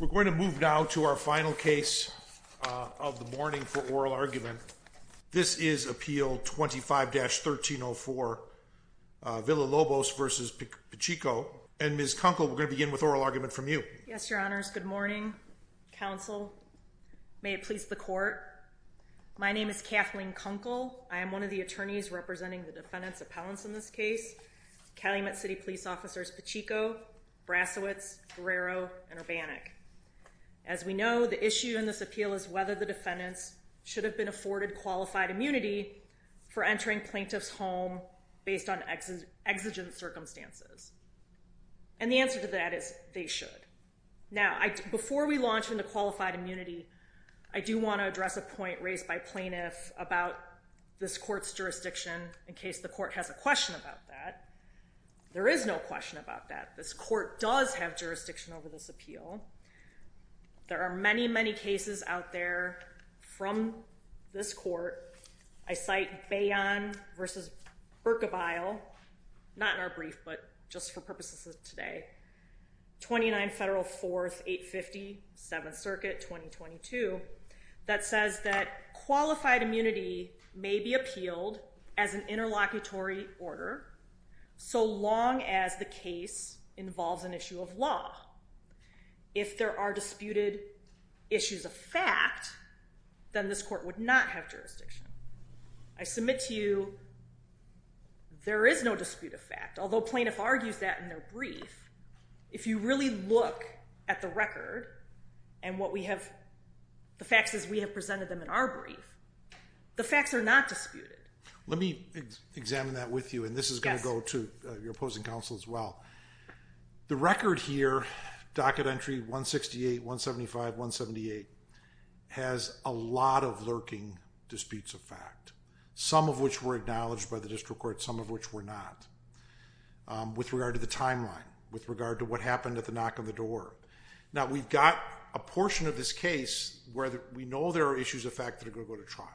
We're going to move now to our final case of the morning for oral argument. This is Appeal 25-1304 Villalobos v. Piccicco. And Ms. Kunkel, we're going to begin with oral argument from you. Yes, your honors. Good morning, counsel. May it please the court. My name is Kathleen Kunkel. I am one of the attorneys representing the defendants appellants in this case, Calumet City Police Officers Piccicco, Brasowitz, Guerrero, and Urbanik. As we know, the issue in this appeal is whether the defendants should have been afforded qualified immunity for entering plaintiff's home based on exigent circumstances. And the answer to that is they should. Now, before we launch into qualified immunity, I do want to address a point raised by about this court's jurisdiction in case the court has a question about that. There is no question about that. This court does have jurisdiction over this appeal. There are many, many cases out there from this court. I cite Bayon v. Berkebile, not in our brief, but just for purposes of today, 29 Federal 4th, 850, 7th Circuit, 2022, that says that qualified immunity may be appealed as an interlocutory order so long as the case involves an issue of law. If there are disputed issues of fact, then this court would not have jurisdiction. I submit to you there is no dispute of fact, although plaintiff argues that in their If you really look at the record and the facts as we have presented them in our brief, the facts are not disputed. Let me examine that with you, and this is going to go to your opposing counsel as well. The record here, docket entry 168, 175, 178, has a lot of lurking disputes of fact, some of which were acknowledged by the district court, some of which were not. With regard to the timeline, with regard to what happened at the knock on the door. Now, we've got a portion of this case where we know there are issues of fact that are going to go to trial.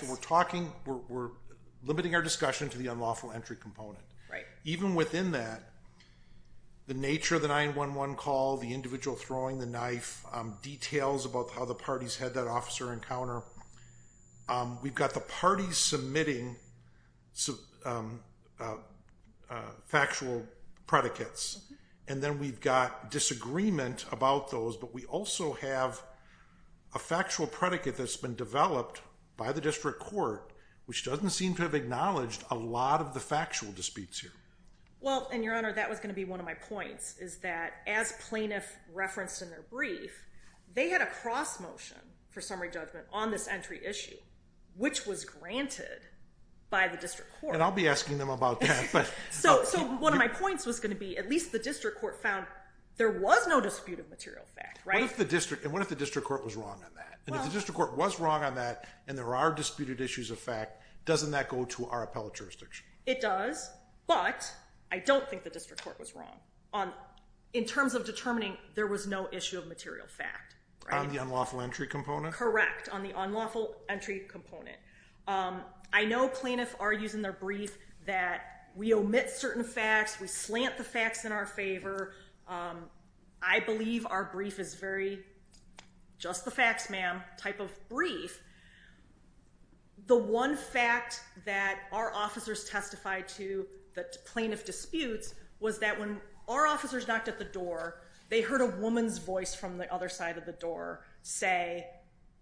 So we're talking, we're limiting our discussion to the unlawful entry component. Even within that, the nature of the 911 call, the individual throwing the knife, details about how the parties had that officer encounter. We've got the parties submitting factual predicates, and then we've got disagreement about those. But we also have a factual predicate that's been developed by the district court, which doesn't seem to have acknowledged a lot of the factual disputes here. Well, and your honor, that was going to be one of my points, is that as plaintiff referenced in their brief, they had a cross motion for summary judgment on this entry issue, which was granted by the district court. And I'll be asking them about that. So one of my points was going to be, at least the district court found there was no dispute of material fact, right? And what if the district court was wrong on that? And if the district court was wrong on that, and there are disputed issues of fact, doesn't that go to our appellate jurisdiction? It does, but I don't think the district court was wrong in terms of determining there was no issue of material fact. On the unlawful entry component? Correct, on the unlawful entry component, there was a cross motion in their brief that we omit certain facts, we slant the facts in our favor. I believe our brief is very just the facts, ma'am type of brief. The one fact that our officers testified to the plaintiff disputes was that when our officers knocked at the door, they heard a woman's voice from the other side of the door say,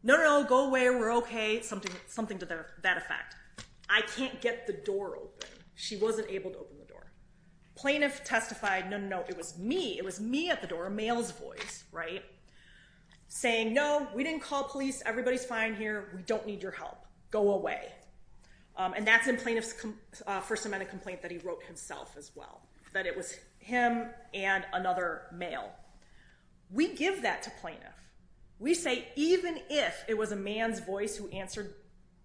no, no, go away, we're okay. Something to that effect. I can't get the door open. She wasn't able to open the door. Plaintiff testified, no, no, no, it was me, it was me at the door, a male's voice, right? Saying, no, we didn't call police, everybody's fine here, we don't need your help, go away. And that's in plaintiff's first amendment complaint that he wrote himself as well, that it was him and another male. We give that to plaintiff. We say even if it was a man's voice who answered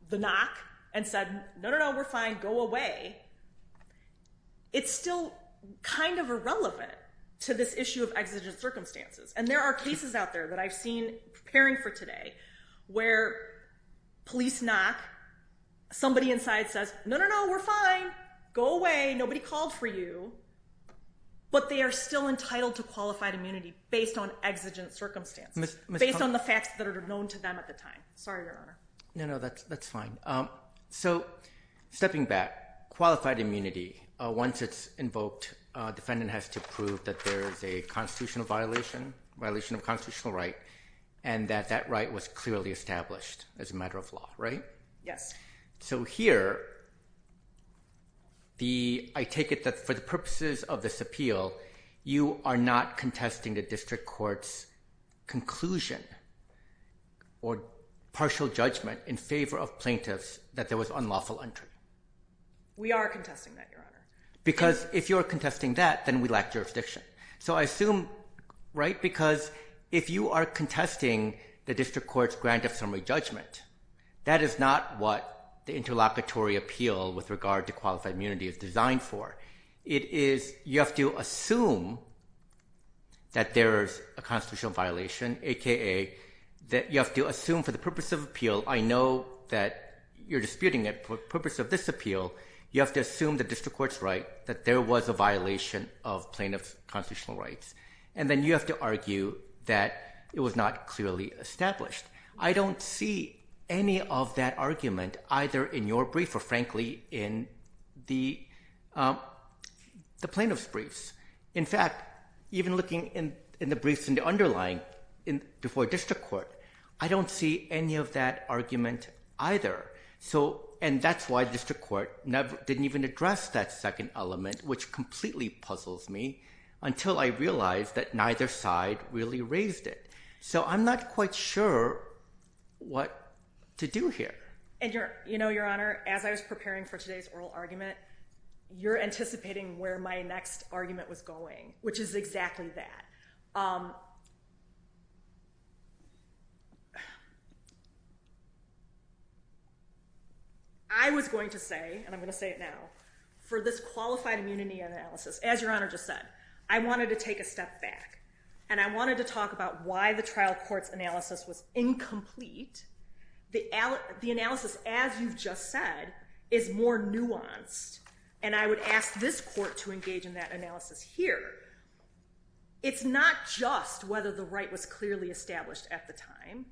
the knock and said, no, no, no, we're fine, go away, it's still kind of irrelevant to this issue of exigent circumstances. And there are cases out there that I've seen preparing for today where police knock, somebody inside says, no, no, no, we're fine, go away, nobody called for you, but they are still entitled to qualified immunity based on exigent circumstances, based on the facts that are known to them at the time. Sorry, Your Honor. No, no, that's fine. So stepping back, qualified immunity, once it's invoked, defendant has to prove that there is a constitutional violation, violation of constitutional right, and that that right was clearly established as a matter of law, right? Yes. So here, I take it that for the purposes of this appeal, you are not contesting the district court's conclusion or partial judgment in favor of plaintiffs that there was unlawful entry. We are contesting that, Your Honor. Because if you're contesting that, then we lack jurisdiction. So I assume, right, because if you are contesting the district court's grant of summary judgment, that is not what the interlocutory appeal with regard to qualified immunity is designed for. It is, you have to assume that there is a constitutional violation, a.k.a. that you have to assume for the purpose of appeal, I know that you're disputing it, for the purpose of this appeal, you have to assume the district court's right that there was a violation of plaintiff's constitutional rights. And then you have to argue that it was not clearly established. I don't see any of that argument either in your brief, or frankly, in the plaintiff's briefs. In fact, even looking in the briefs in the underlying before district court, I don't see any of that argument either. And that's why district court didn't even address that second element, which completely puzzles me, until I realized that neither side really raised it. So I'm not quite sure what to do here. And you know, Your Honor, as I was preparing for today's oral argument, you're anticipating where my next argument was going, which is exactly that. I was going to say, and I'm going to say it now, for this qualified immunity analysis, as Your Honor just said, I wanted to take a step back. And I wanted to talk about why the trial as you've just said, is more nuanced. And I would ask this court to engage in that analysis here. It's not just whether the right was clearly established at the time.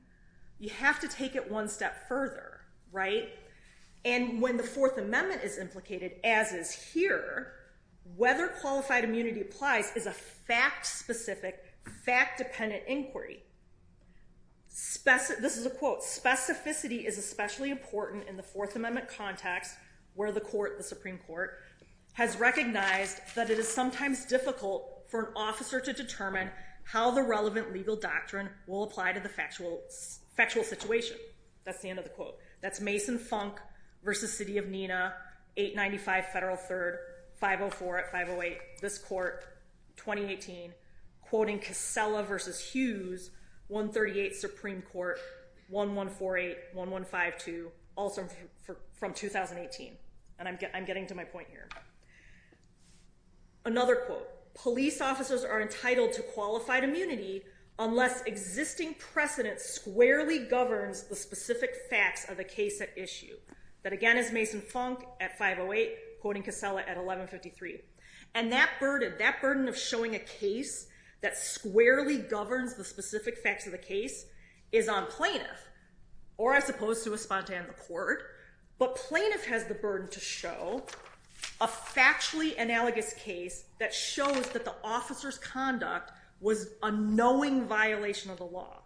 You have to take it one step further, right? And when the Fourth Amendment is implicated, as is here, whether qualified immunity applies is a fact-specific, fact-dependent inquiry. This is a quote, specificity is especially important in the Fourth Amendment context, where the court, the Supreme Court, has recognized that it is sometimes difficult for an officer to determine how the relevant legal doctrine will apply to the factual situation. That's the end of the quote. That's Mason Funk versus City of Neenah, 895 Federal 3rd, 504 at 508, this court, 2018, quoting Casella versus Hughes, 138 Supreme Court, 1148, 1152, also from 2018. And I'm getting to my point here. Another quote, police officers are entitled to qualified immunity unless existing precedent squarely governs the specific facts of the case at issue. That again is Mason Funk at 508, quoting Casella at 1153. And that burden of showing a case that squarely governs the specific facts of the case is on plaintiff, or as opposed to a spontane in the court. But plaintiff has the burden to show a factually analogous case that shows that the officer's conduct was a knowing violation of the law.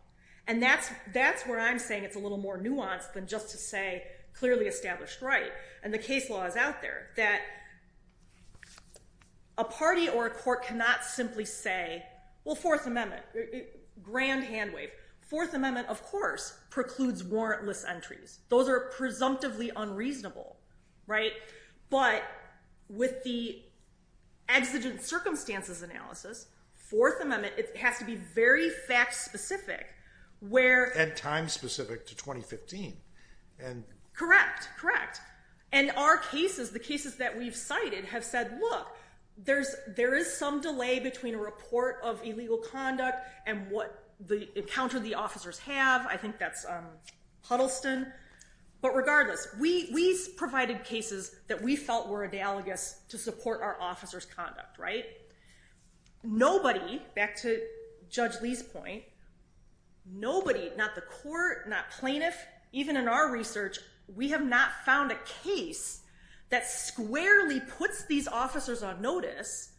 And that's where I'm saying it's a little more nuanced than just to say clearly established right. And the case law is out there that a party or a court cannot simply say, well, Fourth Amendment, grand hand wave. Fourth Amendment, of course, precludes warrantless entries. Those are presumptively unreasonable, right? But with the exigent circumstances analysis, Fourth Amendment, it has to be very fact-specific. And time-specific to 2015. Correct, correct. And our cases, the cases that we've cited, have said, look, there is some delay between a report of illegal conduct and what the encounter the officers have. I think that's Huddleston. But regardless, we provided cases that we felt were analogous to support our officers' conduct, right? Nobody, back to Judge Lee's point, nobody, not the court, not plaintiff, even in our research, we have not found a case that squarely puts these officers on notice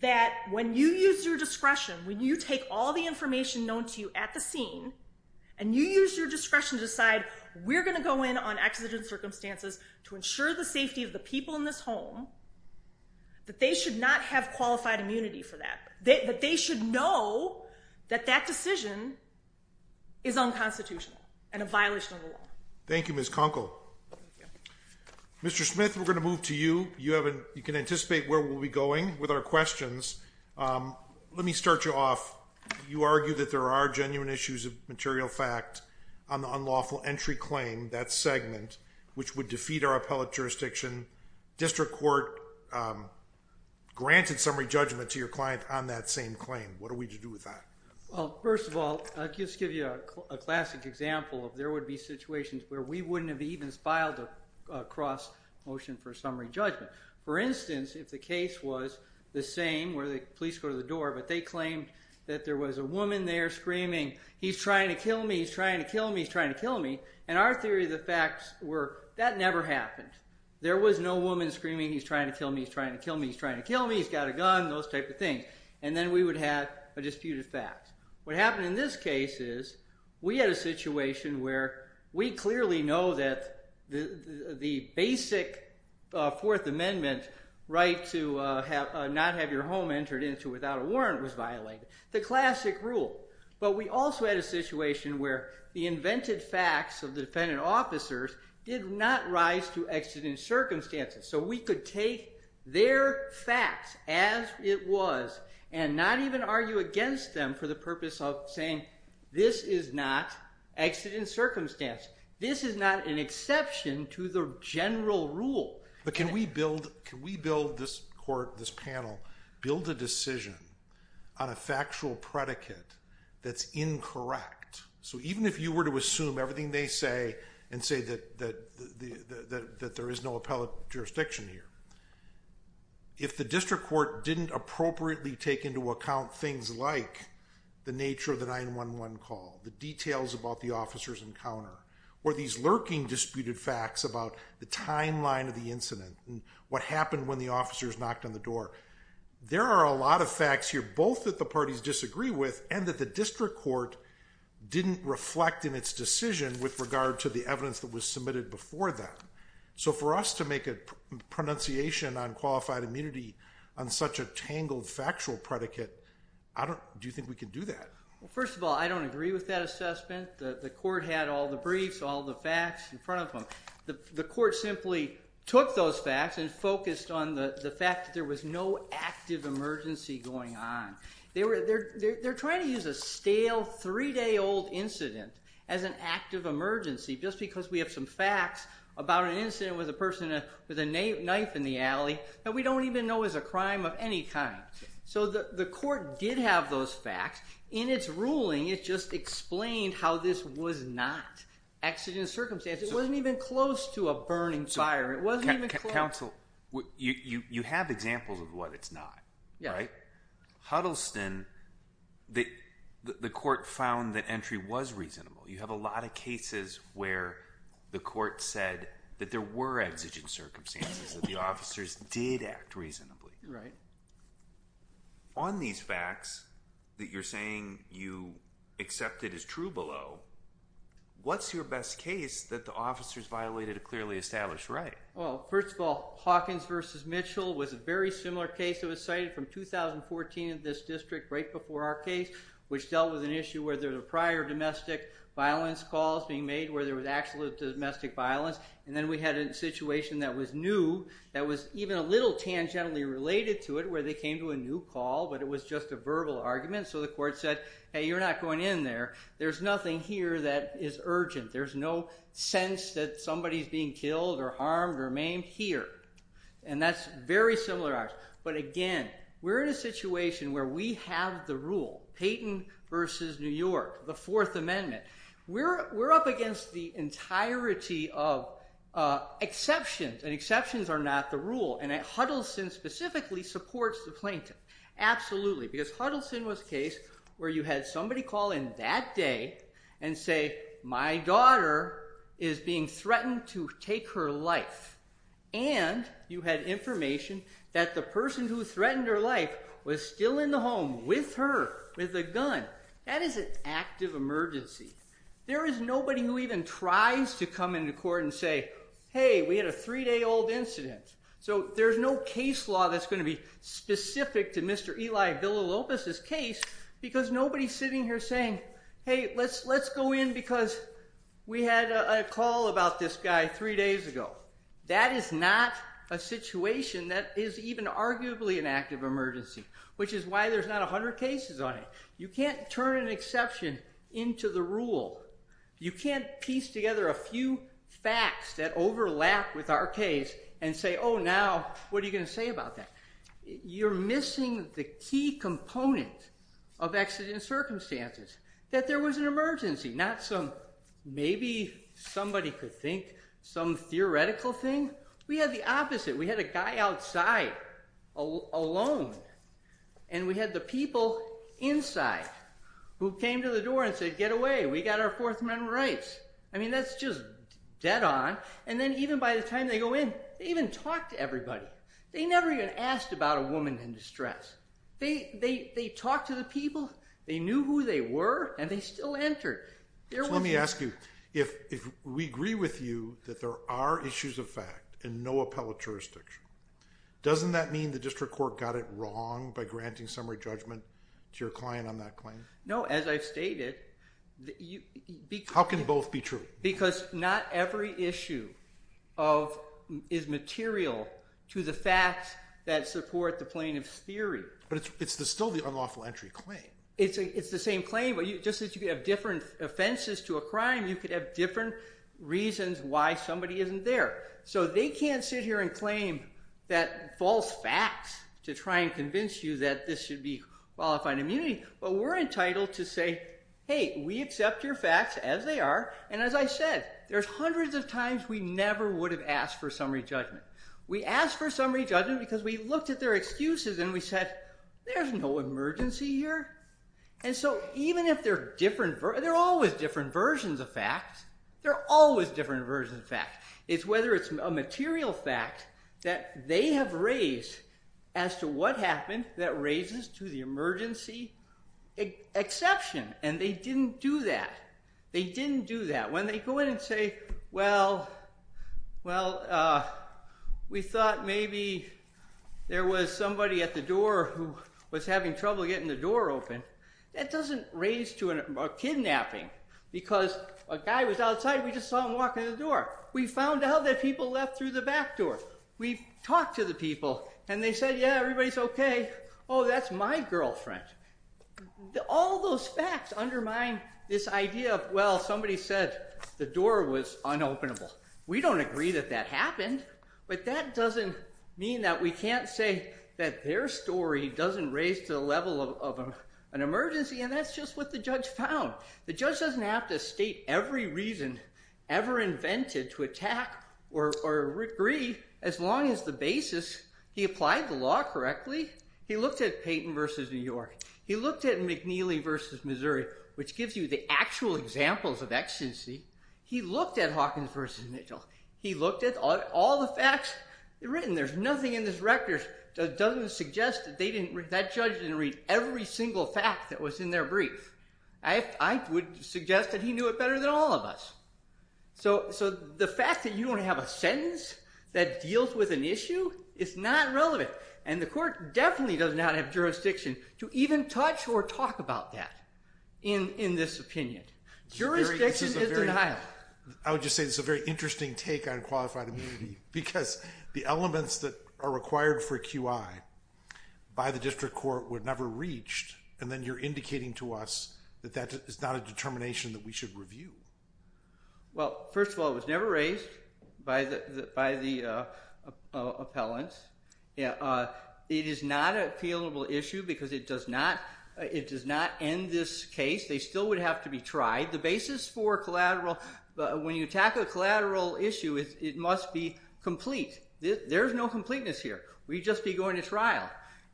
that when you use your discretion, when you take all the information known to you at the scene, and you use your discretion to decide we're going to go in on exigent circumstances to ensure the safety of the people in this home, that they should not have qualified immunity for that. That they should know that that decision is unconstitutional and a violation of the law. Thank you, Ms. Kunkel. Mr. Smith, we're going to move to you. You can anticipate where we'll be going with our questions. Let me start you off. You argue that there are genuine issues of material fact on the unlawful entry claim, that segment, which would defeat our appellate jurisdiction. District Court granted summary judgment to your client on that same claim. What do we do with that? Well, first of all, I'll just give you a classic example of there would be situations where we wouldn't have even filed a cross motion for summary judgment. For instance, if the case was the same, where the police go to the door, but they claimed that there was a woman there screaming, he's trying to kill me, he's trying to kill me, he's trying to kill me. And our theory of the facts were that never happened. There was no woman screaming, he's trying to kill me, he's trying to kill me, he's trying to kill me, he's got a gun, those type of things. And then we would have a disputed fact. What happened in this case is we had a situation where we clearly know that the basic Fourth Amendment right to not have your home entered into without a warrant was violated. The classic rule. But we also had a situation where the invented facts of the defendant officers did not rise to exigent circumstances. So we could take their facts as it was and not even argue against them for the purpose of saying, this is not exigent circumstance. This is not an exception to the general rule. But can we build, can we build this court, this panel, build a decision on a factual predicate that's incorrect? So even if you were to assume everything they say and say that there is no appellate jurisdiction here, if the district court didn't appropriately take into account things like the nature of the 911 call, the details about the officer's encounter, or these lurking disputed facts about the timeline of the incident and what happened when the officers knocked on the door, there are a lot of facts here, both that the parties disagree with and that the district court didn't reflect in its decision with regard to the evidence that was submitted before that. So for us to make a pronunciation on qualified immunity on such a tangled factual predicate, I don't, do you think we can do that? Well, first of all, I don't agree with that assessment. The court had all the briefs, all the facts in front of them. The court simply took those facts and focused on the fact that there was no active emergency going on. They're trying to use a stale, three-day-old incident as an active emergency just because we have some facts about an incident with a person with a knife in the alley that we don't even know is a crime of any kind. So the court did have those facts. In its ruling, it just explained how this was not exigent circumstance. It wasn't even close to a burning fire. It wasn't even close. Counsel, you have examples of what it's not, right? Yeah. Huddleston, the court found that entry was reasonable. You have a lot of cases where the court said that there were exigent circumstances, that the officers did act reasonably. Right. On these facts that you're saying you accepted as true below, what's your best case that the officers violated a clearly established right? Well, first of all, Hawkins v. Mitchell was a very similar case. It was cited from 2014 in this district, right before our case, which dealt with an issue where there were prior domestic violence calls being made where there was actual domestic violence. And then we had a situation that was new, that was even a little tangentially related to it where they came to a new call, but it was just a verbal argument. So the court said, hey, you're not going in there. There's nothing here that is urgent. There's no sense that somebody's being killed or harmed or maimed here. And that's very similar to ours. But again, we're in a situation where we have the rule, Payton v. New York, the Fourth Amendment. We're up against the entirety of exceptions, and exceptions are not the rule. And Huddleston specifically supports the plaintiff. Absolutely. Because Huddleston was a case where you had somebody call in that day and say, my daughter is being threatened to take her life. And you had information that the person who threatened her life was still in the home with her, with a gun. That is an active emergency. There is nobody who even tries to come into court and say, hey, we had a three-day-old incident. So there's no case law that's going to be specific to Mr. Eli Villalobos's case because nobody's sitting here saying, hey, let's go in because we had a call about this guy three days ago. That is not a situation that is even arguably an active emergency, which is why there's not 100 cases on it. You can't turn an exception into the rule. You can't piece together a few facts that overlap with our case and say, oh, now, what are you going to say about that? You're missing the key component of accident circumstances, that there was an emergency, not some maybe somebody could think some theoretical thing. We had the opposite. We had a guy outside, alone. And we had the people inside who came to the door and said, get away. We got our Fourth Amendment rights. I mean, that's just dead on. And then even by the time they go in, they even talk to everybody. They never even asked about a woman in distress. They talked to the people. They knew who they were. And they still entered. Let me ask you, if we agree with you that there are issues of fact and no appellate jurisdiction, doesn't that mean the district court got it wrong by granting summary judgment to your client on that claim? No, as I've stated. How can both be true? Because not every issue is material to the facts that support the plaintiff's theory. But it's still the unlawful entry claim. It's the same claim, but just as you could have different offenses to a crime, you could have different reasons why somebody isn't there. So they can't sit here and claim that false facts to try and convince you that this should be qualified immunity. But we're entitled to say, hey, we accept your facts as they are. And as I said, there's hundreds of times we never would have asked for summary judgment. We asked for summary judgment because we looked at their excuses and we said, there's no emergency here. And so even if they're different, they're always different versions of fact. They're always different versions of fact. It's whether it's a material fact that they have raised as to what happened that raises to the emergency exception. And they didn't do that. They didn't do that. When they go in and say, well, well, we thought maybe there was somebody at the door who was having trouble getting the door open. That doesn't raise to a kidnapping because a guy was outside. We just saw him walk in the door. We found out that people left through the back door. We talked to the people and they said, yeah, everybody's okay. Oh, that's my girlfriend. All those facts undermine this idea of, well, somebody said the door was unopenable. We don't agree that that happened, but that doesn't mean that we can't say that their story doesn't raise to the level of an emergency. And that's just what the judge found. The judge doesn't have to state every reason ever invented to attack or agree as long as the basis, he applied the law correctly. He looked at Payton versus New York. He looked at McNeely versus Missouri, which gives you the actual examples of exigency. He looked at Hawkins versus Mitchell. He looked at all the facts written. There's nothing in this record that doesn't suggest that that judge didn't read every single fact that was in their brief. I would suggest that he knew it better than all of us. So the fact that you don't have a sentence that deals with an issue is not relevant. And the court definitely does not have jurisdiction to even touch or talk about that in this opinion. Jurisdiction is denial. I would just say this is a very interesting take on qualified immunity because the elements that are required for QI by the district court were never reached. And then you're indicating to us that that is not a determination that we should review. Well, first of all, it was never raised by the appellants. It is not an appealable issue because it does not end this case. They still would have to be tried. The basis for collateral, when you tackle a collateral issue, it must be complete. There's no completeness here. We'd just be going to trial.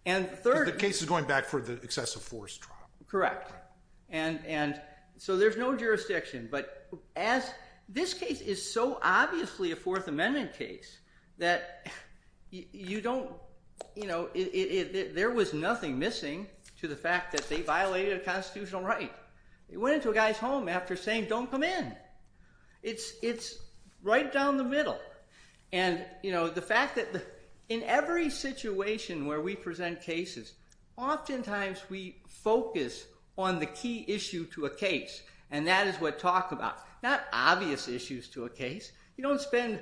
And third... Because the case is going back for the excessive force trial. Correct. And so there's no jurisdiction. But this case is so obviously a Fourth Amendment case that there was nothing missing to the fact that they violated a constitutional right. It went into a guy's home after saying, don't come in. It's right down the middle. And the fact on the key issue to a case. And that is what talk about. Not obvious issues to a case. You don't spend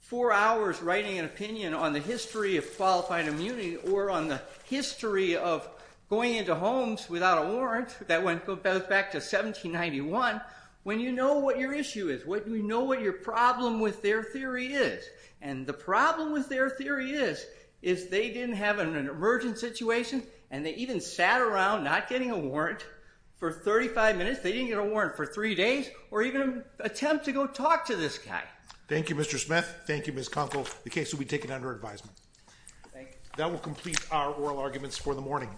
four hours writing an opinion on the history of qualified immunity or on the history of going into homes without a warrant that went back to 1791 when you know what your issue is, when you know what your problem with their theory is. And the problem with their theory is they didn't have an emergent situation and they even sat around not getting a warrant for 35 minutes. They didn't get a warrant for three days or even attempt to go talk to this guy. Thank you, Mr. Smith. Thank you, Ms. Conkle. The case will be taken under advisement. Thank you. That will complete our oral arguments for the morning.